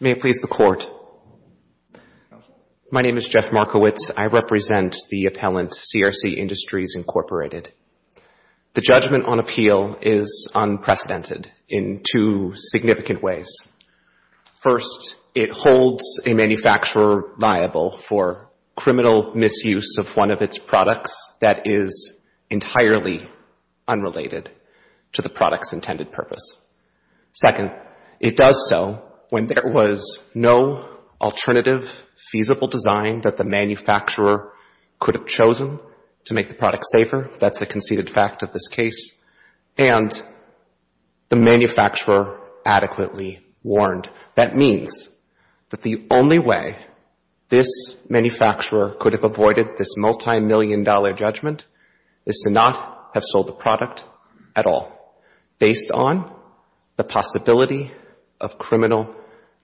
May it please the Court. My name is Jeff Markowitz. I represent the appellant, CRC Industries, Incorporated. The judgment on appeal is unprecedented in two significant ways. First, it holds a manufacturer liable for criminal misuse of one of its products that is entirely unrelated to the product's intended purpose. Second, it does so when there was no alternative feasible design that the manufacturer could have chosen to make the product safer. That's a conceded fact of this case. And the manufacturer adequately warned. That means that the only way this manufacturer could have avoided this multimillion-dollar judgment is to not have sold the product at all, based on the possibility of criminal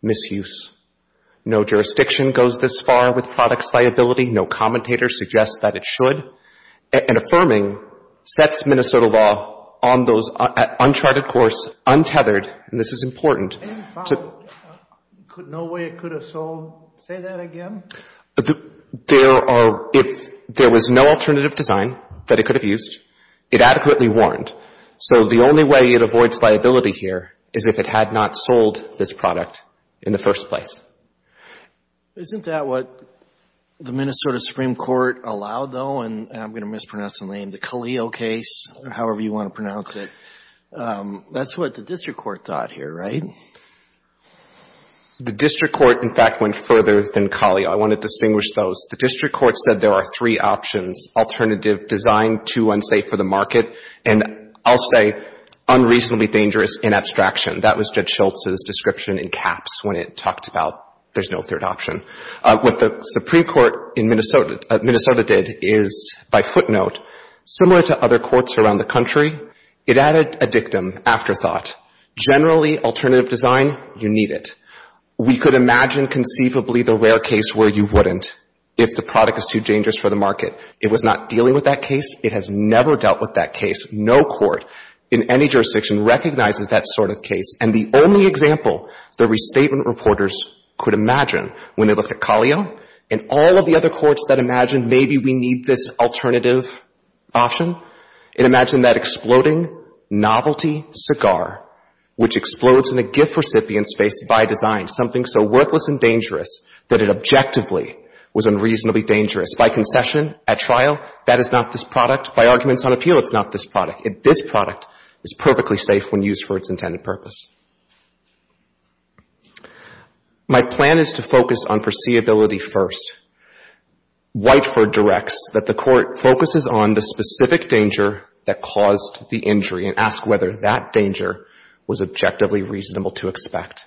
misuse. No jurisdiction goes this far with products liability. No commentator suggests that it should. And affirming sets Minnesota law on those uncharted course, untethered, and this is important. Any follow-up, no way it could have sold, say that again? There are, if there was no alternative design that it could have used, it adequately warned. So the only way it avoids liability here is if it had not sold this product in the first place. Isn't that what the Minnesota Supreme Court allowed, though? And I'm going to mispronounce the name, the Calio case, or however you want to pronounce it. That's what the district court thought here, right? The district court, in fact, went further than Calio. I want to distinguish those. The district court said there are three options, alternative design, too unsafe for the market, and I'll say unreasonably dangerous in abstraction. That was Judge Schultz's description in caps when it talked about there's no third option. What the Supreme Court in Minnesota did is, by footnote, similar to other courts around the country, it added a dictum, afterthought. Generally, alternative design, you need it. We could imagine conceivably the rare case where you wouldn't if the product is too dangerous for the market. It was not dealing with that case. It has never dealt with that case. No court in any jurisdiction recognizes that sort of case. And the only example the restatement reporters could imagine when they looked at Calio and all of the other courts that imagined maybe we need this alternative option, it imagined that exploding novelty cigar, which explodes in a gift recipient space by design, something so worthless and dangerous that it objectively was unreasonably dangerous. By concession, at trial, that is not this product. This product is perfectly safe when used for its intended purpose. My plan is to focus on foreseeability first. Whiteford directs that the court focuses on the specific danger that caused the injury and ask whether that danger was objectively reasonable to expect.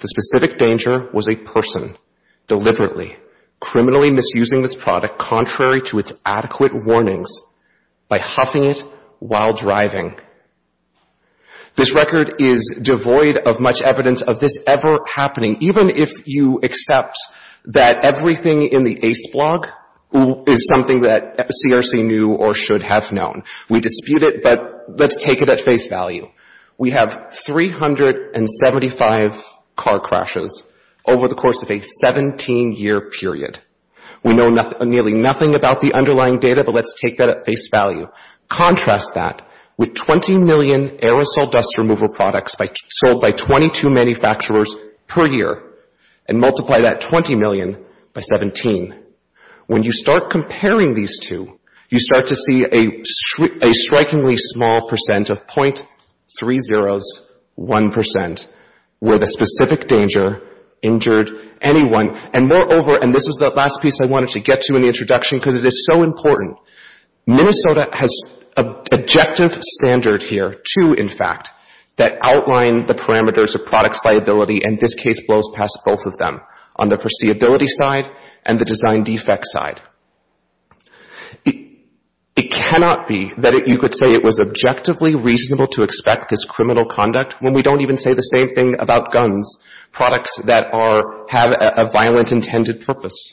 The specific danger was a person deliberately criminally misusing this product contrary to its adequate warnings by huffing it while driving. This record is devoid of much evidence of this ever happening, even if you accept that everything in the ACE blog is something that CRC knew or should have known. We dispute it, but let's take it at face value. We have 375 car crashes over the course of a 17-year period. We know nearly nothing about the underlying data, but let's take that at face value. Contrast that with 20 million aerosol dust removal products sold by 22 manufacturers per year and multiply that 20 million by 17. When you start comparing these two, you start to see a strikingly small percent of .301% where the specific danger injured anyone. And moreover, and this is the last piece I wanted to get to in the introduction because it is so important, Minnesota has an objective standard here, two in fact, that outline the parameters of product's liability and this case blows past both of them on the foreseeability side and the design defect side. It cannot be that you could say it was objectively reasonable to expect this criminal conduct when we don't even say the same thing about guns, products that have a violent intended purpose.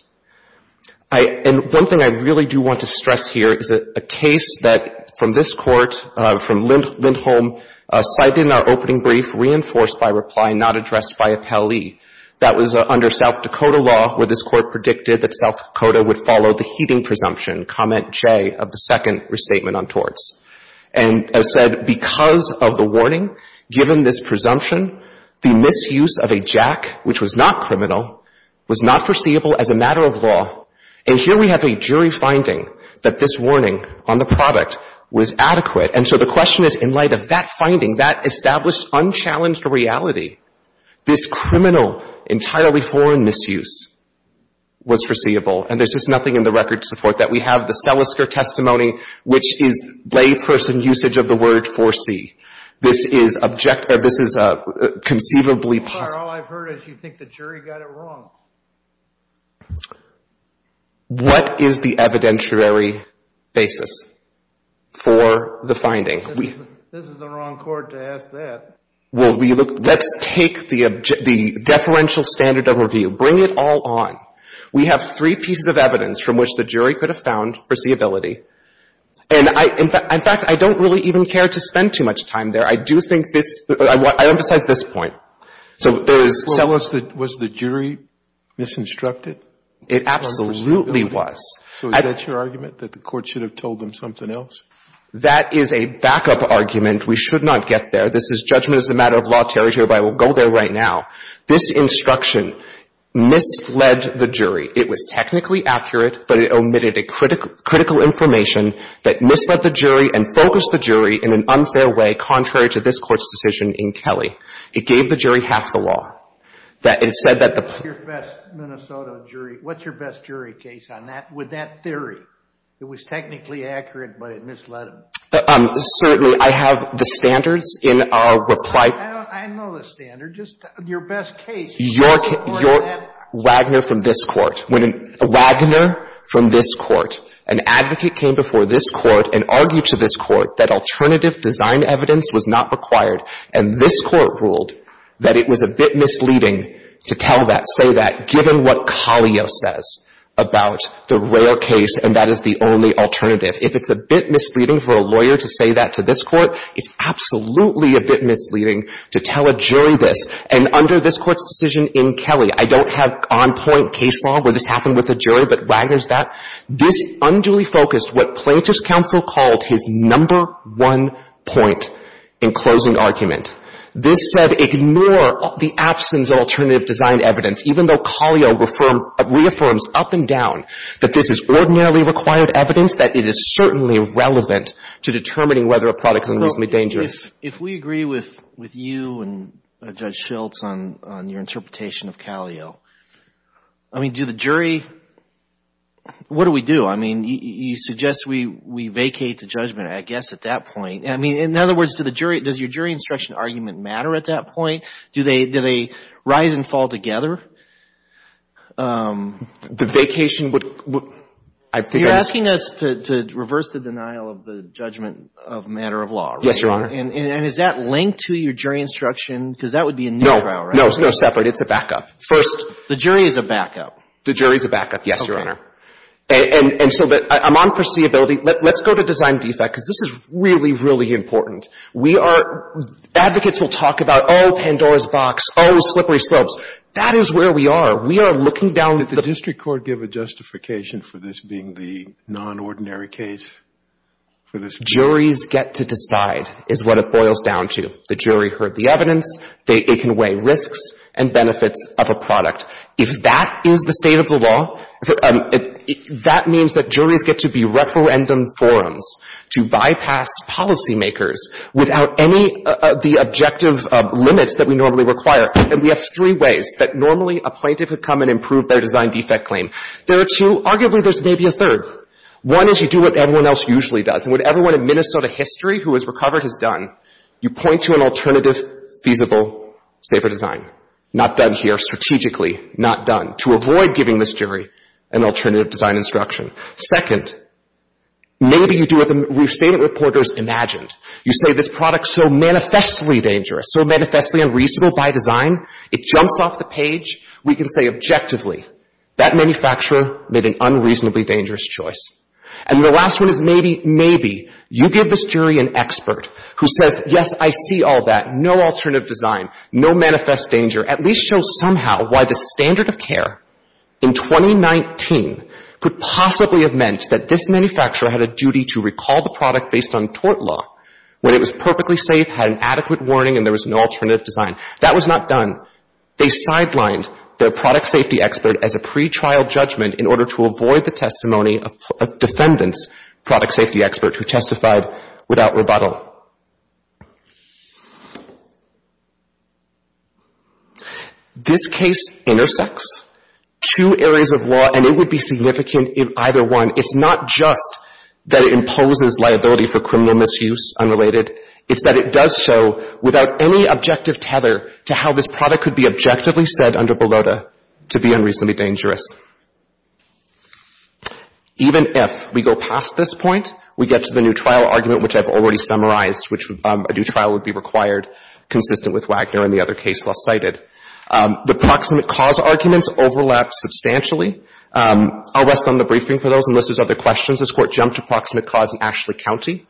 And one thing I really do want to stress here is a case that from this court, from Lindholm cited in our opening brief, reinforced by a reply not addressed by a pally. That was under South Dakota law where this court predicted that South Dakota would follow the heating presumption, comment J of the second restatement on torts. And as said, because of the warning, given this presumption, the misuse of a jack, which was not criminal, was not foreseeable as a matter of law. And here we have a jury finding that this warning on the product was adequate. And so the question is, in light of that finding, that established unchallenged reality, this criminal, entirely foreign misuse was foreseeable. And there's just nothing in the record to support that. We have the Selisker testimony, which is layperson usage of the word foresee. This is objectively, this is conceivably possible. All I've heard is you think the jury got it wrong. What is the evidentiary basis for the finding? This is the wrong court to ask that. Will we look, let's take the deferential standard of review, bring it all on. We have three pieces of evidence from which the jury could have found foreseeability. And I, in fact, I don't really even care to spend too much time there. I do think this, I emphasize this point. So there is some. Was the jury misinstructed? It absolutely was. So is that your argument, that the court should have told them something else? That is a backup argument. We should not get there. This is judgment as a matter of law territory, but I will go there right now. This instruction misled the jury. It was technically accurate, but it omitted critical information that misled the jury and focused the jury in an unfair way, contrary to this court's decision in Kelly. It gave the jury half the law. That it said that the- What's your best Minnesota jury, what's your best jury case on that, with that theory? It was technically accurate, but it misled them. Certainly. I have the standards in our reply. I know the standard. Your best case- Your Wagner from this court. When a Wagner from this court, an advocate came before this court and argued to this court that alternative design evidence was not required, and this court ruled that it was a bit misleading to tell that, say that, given what Collio says about the rail case and that is the only alternative. If it's a bit misleading for a lawyer to say that to this court, it's absolutely a bit misleading to tell a jury this. And under this court's decision in Kelly, I don't have on-point case law where this happened with a jury, but Wagner's that, this unduly focused what plaintiff's counsel called his number one point in closing argument. This said ignore the absence of alternative design evidence, even though Collio reaffirms up and down that this is ordinarily required evidence, that it is certainly relevant to determining whether a product is unreasonably dangerous. If we agree with you and Judge Schiltz on your interpretation of Collio, I mean, do the jury, what do we do? I mean, you suggest we vacate the judgment, I guess, at that point. I mean, in other words, does your jury instruction argument matter at that point? Do they rise and fall together? The vacation would- You're asking us to reverse the denial of the judgment of a matter of law, right? Yes, Your Honor. And is that linked to your jury instruction? Because that would be a new trial, right? No, no, it's no separate. It's a backup. First, the jury is a backup. The jury is a backup, yes, Your Honor. And so, I'm on foreseeability. Let's go to design defect, because this is really, really important. We are, advocates will talk about, oh, Pandora's box, oh, slippery slopes. That is where we are. We are looking down- Did the district court give a justification for this being the non-ordinary case for this- Juries get to decide is what it boils down to. The jury heard the evidence. It can weigh risks and benefits of a product. If that is the state of the law, that means that juries get to be referendum forums to bypass policymakers without any of the objective limits that we normally require. And we have three ways that normally a plaintiff would come and improve their design defect claim. There are two. Arguably, there's maybe a third. One is you do what everyone else usually does. And what everyone in Minnesota history who has recovered has done. You point to an alternative, feasible, safer design. Not done here strategically. Not done. To avoid giving this jury an alternative design instruction. Second, maybe you do what the restatement reporters imagined. You say, this product is so manifestly dangerous, so manifestly unreasonable by design, it jumps off the page. We can say objectively, that manufacturer made an unreasonably dangerous choice. And the last one is maybe, maybe, you give this jury an expert who says, yes, I see all that, no alternative design, no manifest danger. At least show somehow why the standard of care in 2019 could possibly have meant that this manufacturer had a duty to recall the product based on tort law, when it was perfectly safe, had an adequate warning, and there was no alternative design. That was not done. They sidelined the product safety expert as a pretrial judgment in order to avoid the testimony of defendants, product safety experts, who testified without rebuttal. This case intersects two areas of law, and it would be significant in either one. It's not just that it imposes liability for criminal misuse, unrelated, it's that it does so without any objective tether to how this product could be objectively said under Bellota to be unreasonably dangerous. Even if we go past this point, we get to the new trial argument, which I've already summarized, which a new trial would be required, consistent with Wagner and the other case less cited. The proximate cause arguments overlap substantially. I'll rest on the briefing for those, unless there's other questions. This Court jumped to proximate cause in Ashley County,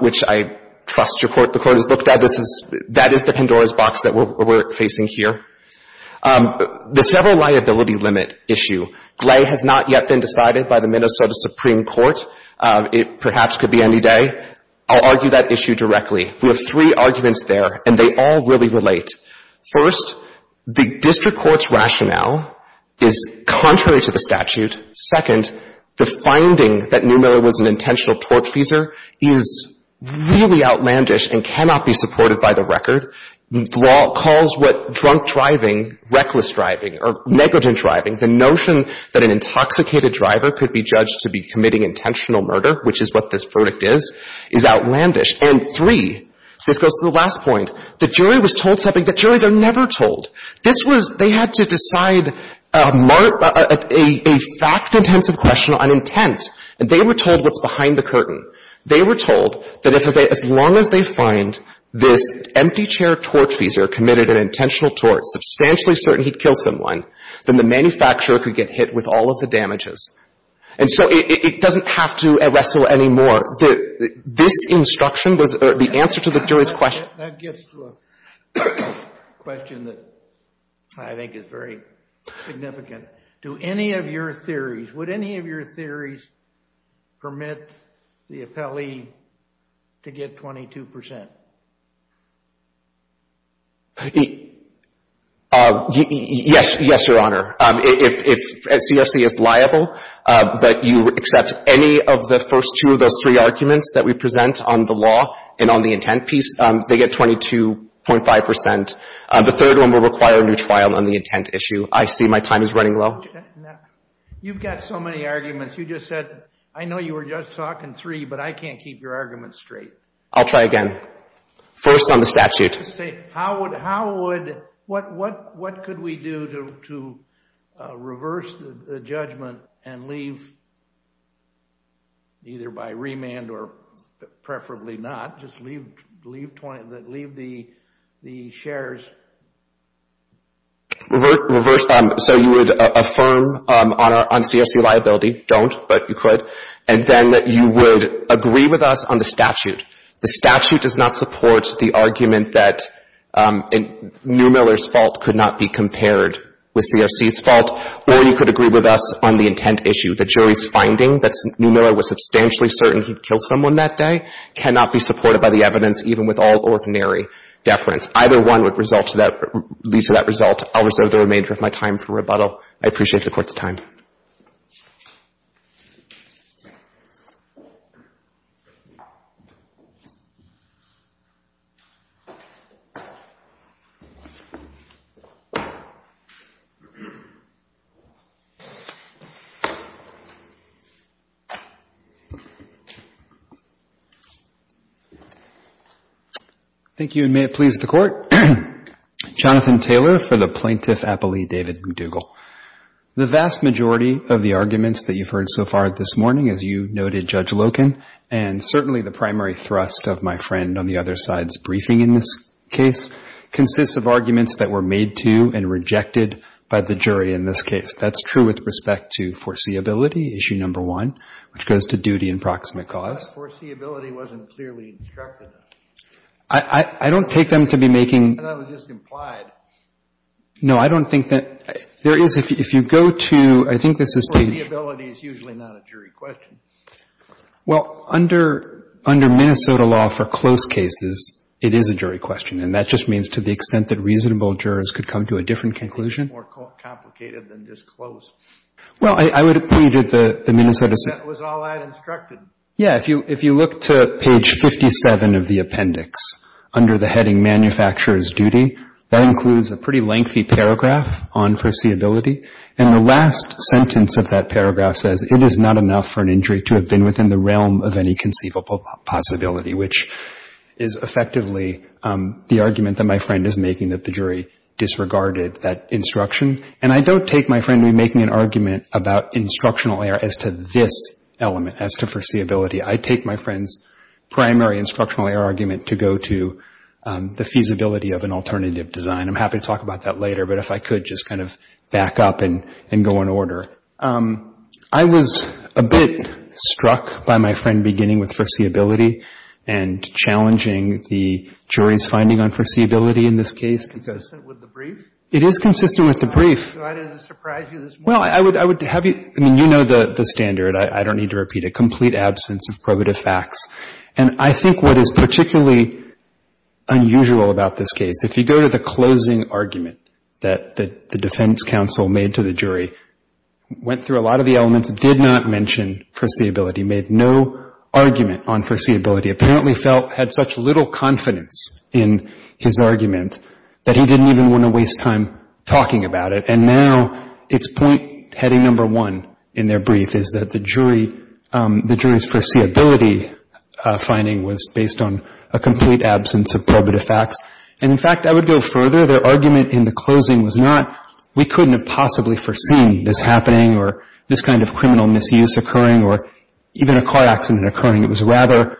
which I trust your Court the Court has looked at. This is, that is the Pandora's box that we're facing here. The several liability limit issue, GLAE, has not yet been decided by the Minnesota Supreme Court. It perhaps could be any day. I'll argue that issue directly. We have three arguments there, and they all really relate. First, the district court's rationale is contrary to the statute. Second, the finding that Neumiller was an intentional tortfeasor is really outlandish and cannot be supported by the record. Neumiller calls what drunk driving, reckless driving, or negligent driving, the notion that an intoxicated driver could be judged to be committing intentional murder, which is what this verdict is, is outlandish. And three, this goes to the last point, the jury was told something that juries are never told. This was, they had to decide a fact-intensive question on intent, and they were told what's behind the curtain. They were told that as long as they find this empty chair tortfeasor committed an intentional tort, substantially certain he'd kill someone, then the manufacturer could get hit with all of the damages. And so it doesn't have to wrestle anymore. This instruction was the answer to the jury's question. That gets to a question that I think is very significant. Do any of your theories, would any of your theories permit the appellee to get 22%? Yes, Your Honor. If CRC is liable, but you accept any of the first two of those three arguments that we present on the law and on the intent piece, they get 22.5%. The third one will require a new trial on the intent issue. I see my time is running low. You've got so many arguments. You just said, I know you were just talking three, but I can't keep your arguments straight. I'll try again. First on the statute. How would, what could we do to reverse the judgment and leave, either by remand or preferably not, just leave the shares? Reverse, so you would affirm on CRC liability, don't, but you could, and then you would agree with us on the statute. The statute does not support the argument that Neumiller's fault could not be compared with CRC's fault, or you could agree with us on the intent issue. The jury's finding that Neumiller was substantially certain he'd killed someone that day cannot be supported by the evidence, even with all ordinary deference. That's either one would result to that, lead to that result. I'll reserve the remainder of my time for rebuttal. I appreciate the Court's time. Thank you, and may it please the Court. Jonathan Taylor for the Plaintiff Appellee, David McDougall. The vast majority of the arguments that you've heard so far this morning, as you noted, Judge Loken, and certainly the primary thrust of my friend on the other side's briefing in this case, consists of arguments that were made to and rejected by the jury in this case. That's true with respect to foreseeability, issue number one, which goes to duty and proximate cause. But foreseeability wasn't clearly instructed. I don't take them to be making No, I don't think that, there is, if you go to, I think this is Well, under Minnesota law, for close cases, it is a jury question, and that just means to the extent that reasonable jurors could come to a different conclusion. It would be more complicated than just close. Well, I would agree that the Minnesota That was all I had instructed. Yeah, if you look to page 57 of the appendix, under the heading Manufacturer's Duty, that includes a pretty lengthy paragraph on foreseeability. And the last sentence of that paragraph says, it is not enough for an injury to have been within the realm of any conceivable possibility, which is effectively the argument that my friend is making that the jury disregarded that instruction. And I don't take my friend to be making an argument about instructional error as to this element, as to foreseeability. I take my friend's primary instructional error argument to go to the feasibility of an alternative design. And I'm happy to talk about that later, but if I could, just kind of back up and go in I was a bit struck by my friend beginning with foreseeability and challenging the jury's finding on foreseeability in this case because Is it consistent with the brief? It is consistent with the brief. Do I need to surprise you this morning? Well, I would have you, I mean, you know the standard. I don't need to repeat it. Complete absence of probative facts. And I think what is particularly unusual about this case, if you go to the closing argument that the defense counsel made to the jury, went through a lot of the elements, did not mention foreseeability, made no argument on foreseeability, apparently felt, had such little confidence in his argument that he didn't even want to waste time talking about it. And now it's point, heading number one in their brief is that the jury's foreseeability finding was based on a complete absence of probative facts. And in fact, I would go further. Their argument in the closing was not we couldn't have possibly foreseen this happening or this kind of criminal misuse occurring or even a car accident occurring. It was rather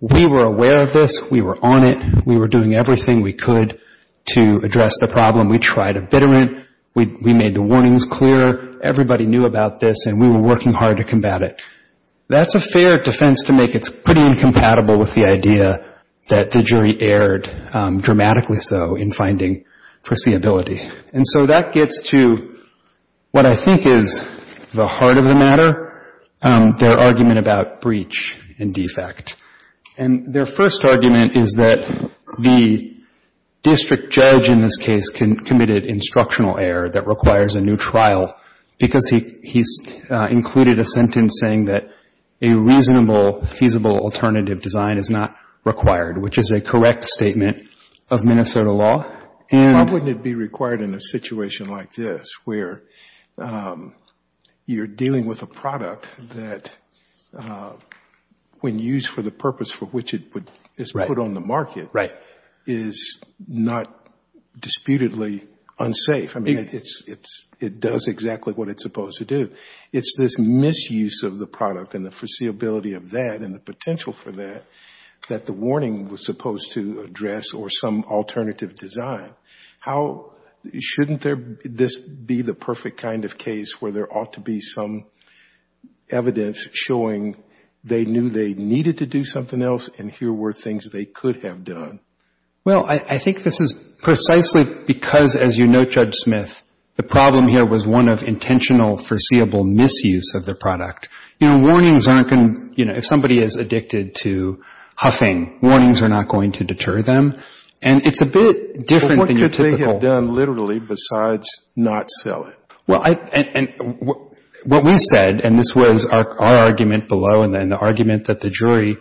we were aware of this, we were on it, we were doing everything we could to address the problem. We tried a bit of it, we made the warnings clear. Everybody knew about this and we were working hard to combat it. That's a fair defense to make. It's pretty incompatible with the idea that the jury erred, dramatically so, in finding foreseeability. And so that gets to what I think is the heart of the matter, their argument about breach and defect. And their first argument is that the district judge in this case committed instructional error that requires a new trial because he's included a sentence saying that a reasonable, feasible alternative design is not required, which is a correct statement of Minnesota law. Why wouldn't it be required in a situation like this where you're dealing with a product that, when used for the purpose for which it is put on the market, is not disputedly unsafe? I mean, it does exactly what it's supposed to do. It's this misuse of the product and the foreseeability of that and the potential for that that the warning was supposed to address or some alternative design. How shouldn't this be the perfect kind of case where there ought to be some evidence showing they knew they needed to do something else and here were things they could have done? Well, I think this is precisely because, as you note, Judge Smith, the problem here was one of intentional, foreseeable misuse of the product. You know, warnings aren't going to, you know, if somebody is addicted to huffing, warnings are not going to deter them. And it's a bit different than your typical... But what could they have done, literally, besides not sell it? Well, and what we said, and this was our argument below and the argument that the jury,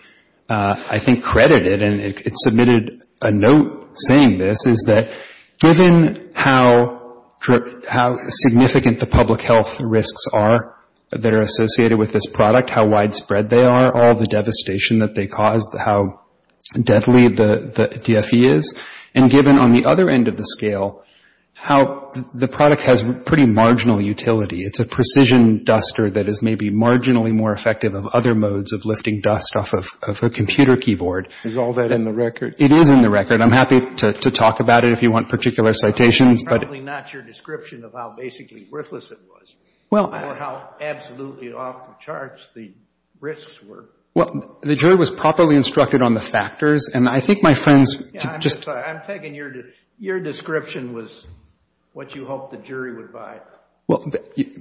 I think, credited and it submitted a note saying this, is that given how significant the public health risks are that are associated with this product, how widespread they are, all the devastation that they cause, how deadly the DFE is, and given on the other end of the scale how the product has pretty marginal utility. It's a precision duster that is maybe marginally more effective of other modes of lifting dust off of a computer keyboard. Is all that in the record? It is in the record. I'm happy to talk about it if you want particular citations, but... It's probably not your description of how basically worthless it was or how absolutely off the charts the risks were. Well, the jury was properly instructed on the factors, and I think my friends... Yeah, I'm just... I'm taking your... Your description was what you hoped the jury would buy. Well,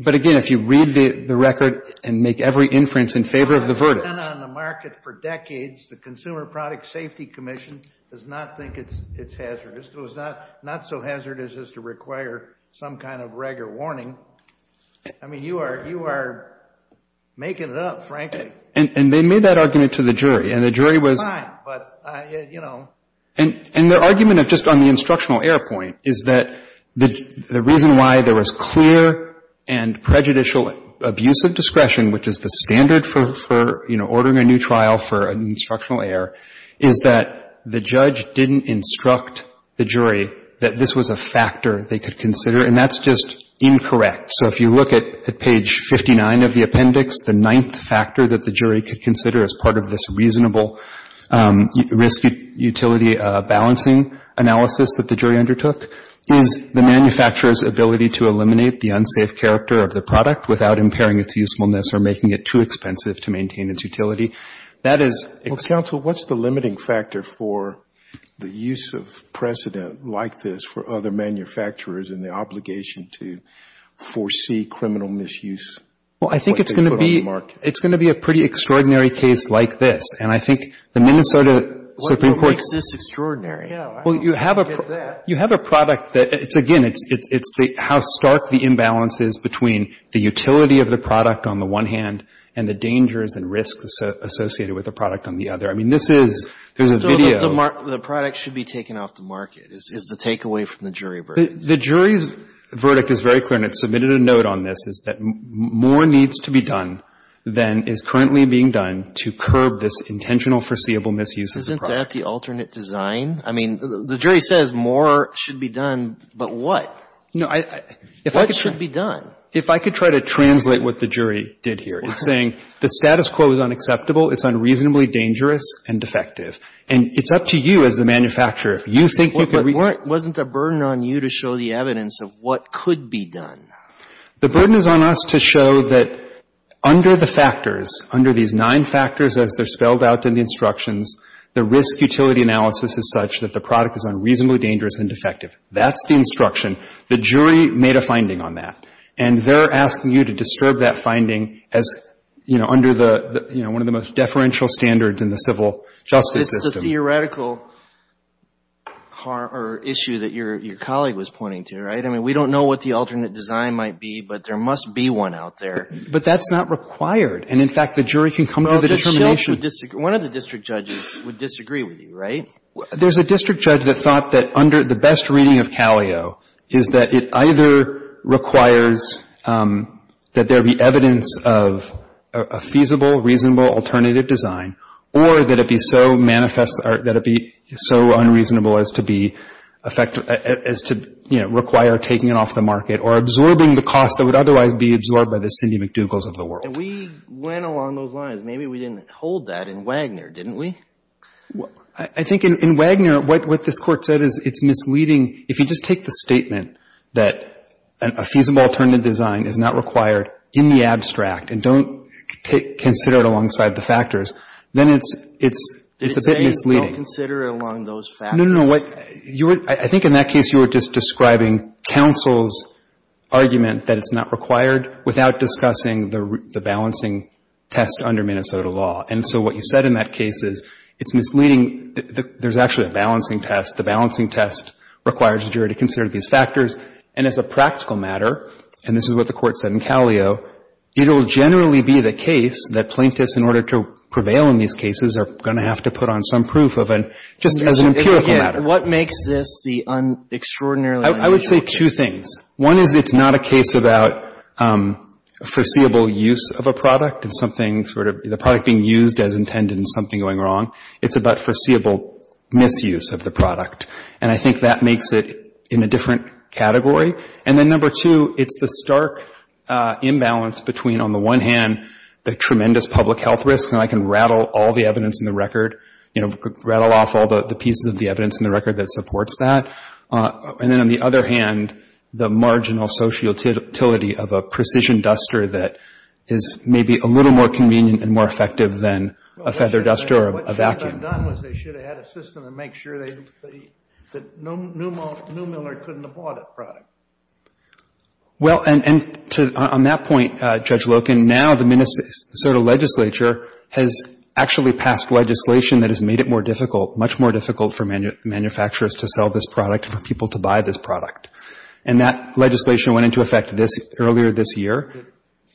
but again, if you read the record and make every inference in favor of the verdict... It's been on the market for decades. The Consumer Product Safety Commission does not think it's hazardous, does not... Not so hazardous as to require some kind of regular warning. I mean, you are making it up, frankly. And they made that argument to the jury, and the jury was... Fine, but, you know... And their argument of just on the instructional error point is that the reason why there was clear and prejudicial abuse of discretion, which is the standard for, you know, ordering a new trial for an instructional error, is that the judge didn't instruct the jury that this was a factor they could consider, and that's just incorrect. So if you look at page 59 of the appendix, the ninth factor that the jury could consider as part of this reasonable risk utility balancing analysis that the jury undertook is the manufacturer's ability to eliminate the unsafe character of the product without impairing its usefulness or making it too expensive to maintain its utility. That is... Well, counsel, what's the limiting factor for the use of precedent like this for other manufacturers and the obligation to foresee criminal misuse? Well, I think it's going to be a pretty extraordinary case like this, and I think the Minnesota Supreme Court... What makes this extraordinary? Well, you have a product that, again, it's how stark the imbalance is between the utility of the product on the one hand and the dangers and risks associated with the product on the other. I mean, this is, there's a video... The product should be taken off the market is the takeaway from the jury verdict. The jury's verdict is very clear, and it's submitted a note on this, is that more needs to be done than is currently being done to curb this intentional foreseeable misuse of the product. Isn't that the alternate design? I mean, the jury says more should be done, but what? No, I... What should be done? If I could try to translate what the jury did here. It's saying the status quo is unacceptable, it's unreasonably dangerous, and defective. And it's up to you as the manufacturer. If you think you could... Wasn't the burden on you to show the evidence of what could be done? The burden is on us to show that under the factors, under these nine factors as they're spelled out in the instructions, the risk utility analysis is such that the product is unreasonably dangerous and defective. That's the instruction. The jury made a finding on that. And they're asking you to disturb that finding as, you know, under one of the most deferential standards in the civil justice system. It's a theoretical issue that your colleague was pointing to, right? I mean, we don't know what the alternate design might be, but there must be one out there. But that's not required. And, in fact, the jury can come to the determination. One of the district judges would disagree with you, right? There's a district judge that thought that under the best reading of CALIO is that it either requires that there be evidence of a feasible, reasonable alternative design, or that it be so unreasonable as to require taking it off the market or absorbing the cost that would otherwise be absorbed by the Cindy McDougals of the world. And we went along those lines. Maybe we didn't hold that in Wagner, didn't we? I think in Wagner, what this Court said is it's misleading. If you just take the statement that a feasible alternative design is not required in the abstract, and don't consider it alongside the factors, then it's a bit misleading. Did they say don't consider it along those factors? No, no, no. I think in that case you were just describing counsel's argument that it's not required without discussing the balancing test under Minnesota law. And so what you said in that case is it's misleading. There's actually a balancing test. The balancing test requires the jury to consider these factors. And as a practical matter, and this is what the Court said in Calio, it will generally be the case that plaintiffs, in order to prevail in these cases, are going to have to put on some proof of an, just as an empirical matter. What makes this the extraordinarily misleading case? I would say two things. One is it's not a case about foreseeable use of a product and something sort of the product being used as intended and something going wrong. It's about foreseeable misuse of the product. And I think that makes it in a different category. And then number two, it's the stark imbalance between, on the one hand, the tremendous public health risk, and I can rattle all the evidence in the record, you know, rattle off all the pieces of the evidence in the record that supports that. And then on the other hand, the marginal social utility of a precision duster that is maybe a little more convenient and more effective than a feather duster or a vacuum. What should have been done was they should have had a system to make sure that Newmiller couldn't have bought that product. Well, and to, on that point, Judge Loken, now the Minnesota legislature has actually passed legislation that has made it more difficult, much more difficult for manufacturers to sell this product and for people to buy this product. And that legislation went into effect earlier this year. Is it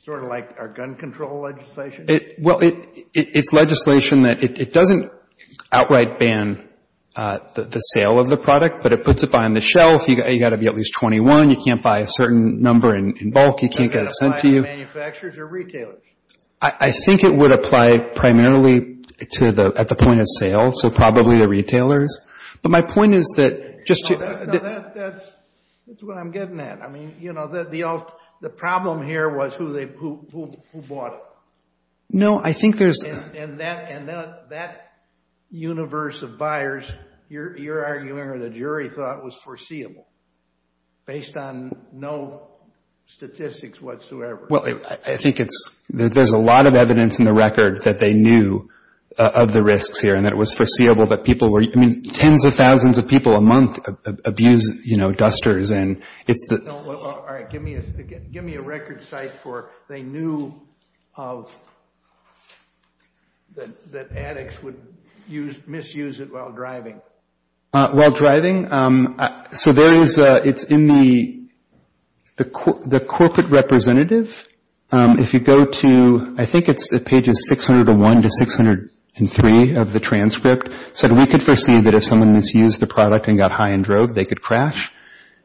sort of like our gun control legislation? Well, it's legislation that it doesn't outright ban the sale of the product, but it puts it behind the shelf. You've got to be at least 21. You can't buy a certain number in bulk. You can't get it sent to you. Does it apply to manufacturers or retailers? I think it would apply primarily at the point of sale, so probably the retailers. But my point is that just to... That's what I'm getting at. I mean, you know, the problem here was who bought it. No, I think there's... And that universe of buyers, you're arguing or the jury thought was foreseeable based on no statistics whatsoever. Well, I think it's... There's a lot of evidence in the record that they knew of the risks here and that it was foreseeable that people were... I mean, tens of thousands of people a month abuse, you know, dusters. And it's the... All right. Give me a record site for they knew that addicts would misuse it while driving. While driving? So there is... It's in the corporate representative. If you go to... I think it's pages 601 to 603 of the transcript. So we could foresee that if someone misused the product and got high and drove, they could crash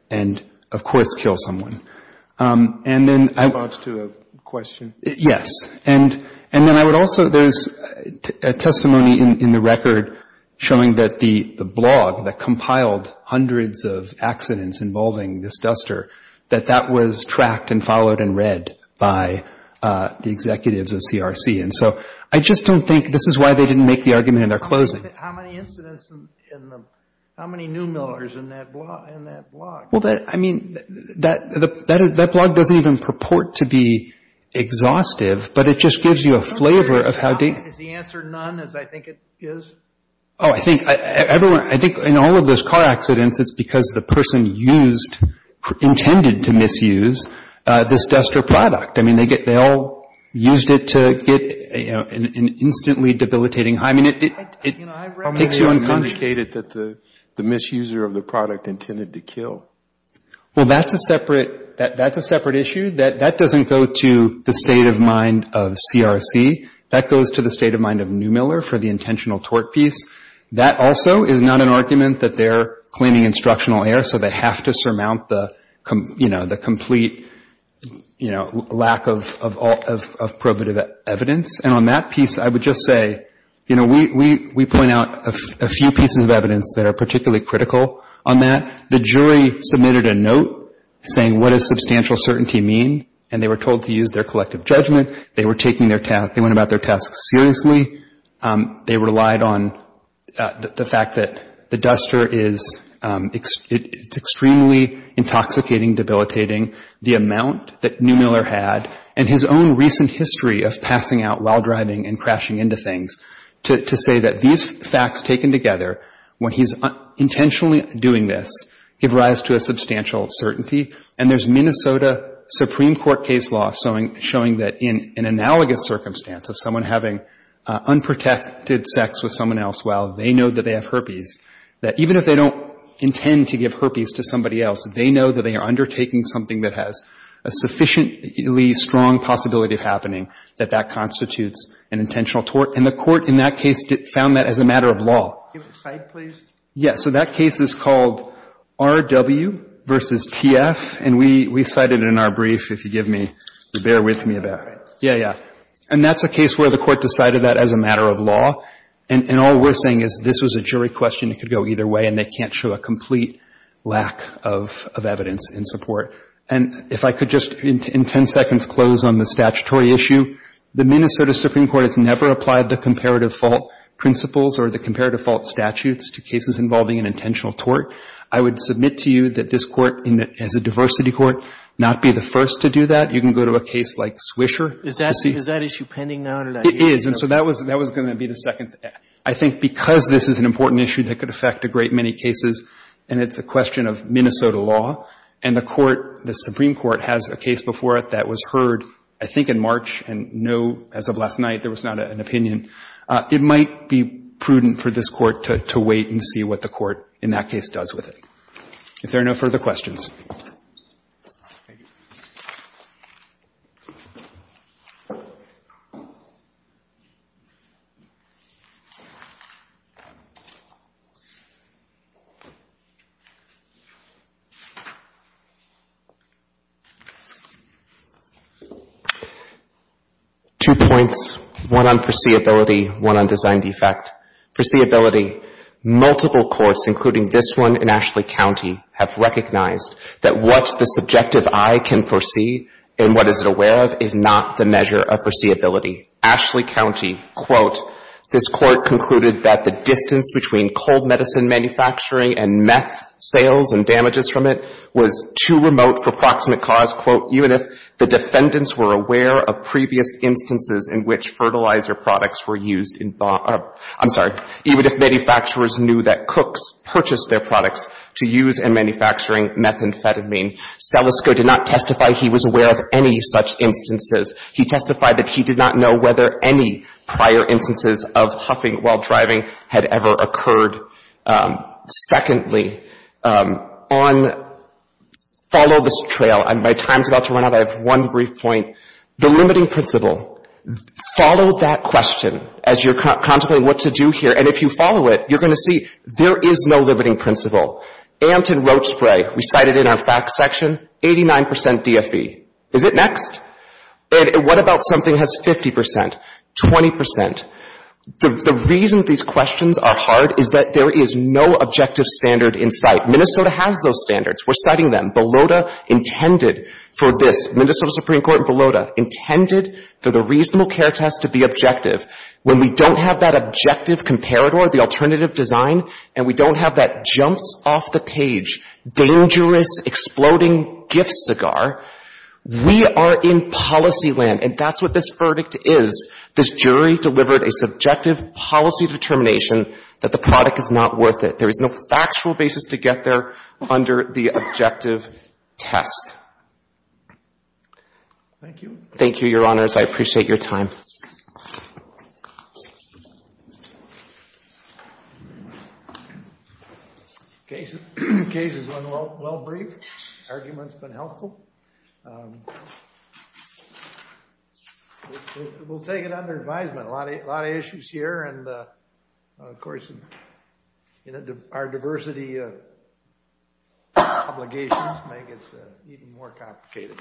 and, of course, kill someone. And then I... That leads to a question. Yes. And then I would also... There's a testimony in the record showing that the blog that compiled hundreds of accidents involving this duster, that that was tracked and followed and read by the executives of CRC. And so I just don't think... This is why they didn't make the argument in their closing. How many incidents in the... How many new millers in that blog? Well, that... I mean, that blog doesn't even purport to be exhaustive, but it just gives you a flavor of how... Is the answer none, as I think it is? Oh, I think everyone... I think in all of those car accidents, it's because the person used, intended to misuse, this duster product. I mean, they all used it to get an instantly debilitating high. I mean, it takes you unconscious. How many have indicated that the misuser of the product intended to kill? Well, that's a separate... That's a separate issue. That doesn't go to the state of mind of CRC. That goes to the state of mind of New Miller for the intentional tort piece. That also is not an argument that they're cleaning instructional air so they have to surmount the, you know, the complete, you know, lack of probative evidence. And on that piece, I would just say, you know, we point out a few pieces of evidence that are particularly critical on that. The jury submitted a note saying, what does substantial certainty mean? And they were told to use their collective judgment. They were taking their task... They went about their task seriously. They relied on the fact that the duster is... It's extremely intoxicating, debilitating. The amount that New Miller had and his own recent history of passing out while driving and crashing into things to say that these facts taken together when he's intentionally doing this give rise to a substantial certainty. And there's Minnesota Supreme Court case law showing that in an analogous circumstance of someone having unprotected sex with someone else while they know that they have herpes, that even if they don't intend to give herpes to somebody else, they know that they are undertaking something that has a sufficiently strong possibility of happening that that constitutes an intentional tort. And the court in that case found that as a matter of law. Can you cite, please? Yes. So that case is called R.W. v. T.F. And we cited it in our brief, if you give me... If you bear with me a bit. All right. Yeah, yeah. And that's a case where the court decided that as a matter of law. And all we're saying is this was a jury question. It could go either way, and they can't show a complete lack of evidence in support. And if I could just, in 10 seconds, close on the statutory issue. The Minnesota Supreme Court has never applied the comparative fault principles or the comparative fault statutes to cases involving an intentional tort. I would submit to you that this court, as a diversity court, not be the first to do that. You can go to a case like Swisher. Is that issue pending now? It is. And so that was going to be the second. I think because this is an important issue that could affect a great many cases, and it's a question of Minnesota law, and the court, the Supreme Court, has a case before it that was heard, I think in March, and no, as of last night, there was not an opinion. It might be prudent for this court to wait and see what the court in that case does with it. If there are no further questions. Two points, one on foreseeability, one on design defect. Foreseeability. Multiple courts, including this one in Ashley County, have recognized that what the subjective eye can foresee and what is it aware of is not the measure of foreseeability. Ashley County, quote, this court concluded that the distance between cold medicine manufacturing and meth sales and damages from it was not the measure of foreseeability. It was too remote for proximate cause, quote, even if the defendants were aware of previous instances in which fertilizer products were used in... I'm sorry. Even if manufacturers knew that cooks purchased their products to use in manufacturing methamphetamine. Salisco did not testify he was aware of any such instances. He testified that he did not know whether any prior instances of huffing while driving had ever occurred. Secondly, um, on follow this trail, my time's about to run out, I have one brief point. The limiting principle. Follow that question as you're contemplating what to do here and if you follow it, you're going to see there is no limiting principle. Ant and Rote Spray, we cited in our facts section, 89% DFE. Is it next? And what about something that has 50%? 20%. The reason these questions are hard is that there is no objective standard in sight. Minnesota has those standards. We're citing them. Belota intended for this, Minnesota Supreme Court and Belota, intended for the reasonable care test to be objective. When we don't have that objective comparator, the alternative design, and we don't have that jumps off the page dangerous, exploding gift cigar, we are in policy land and that's what this verdict is. This jury delivered a subjective policy determination that the product is not worth it. There is no factual basis to get there under the objective test. Thank you. Thank you, Your Honors. I appreciate your time. Case is well brief. Arguments been helpful. We'll take it under advisement. A lot of issues here and of course our diversity obligations make it even more complicated.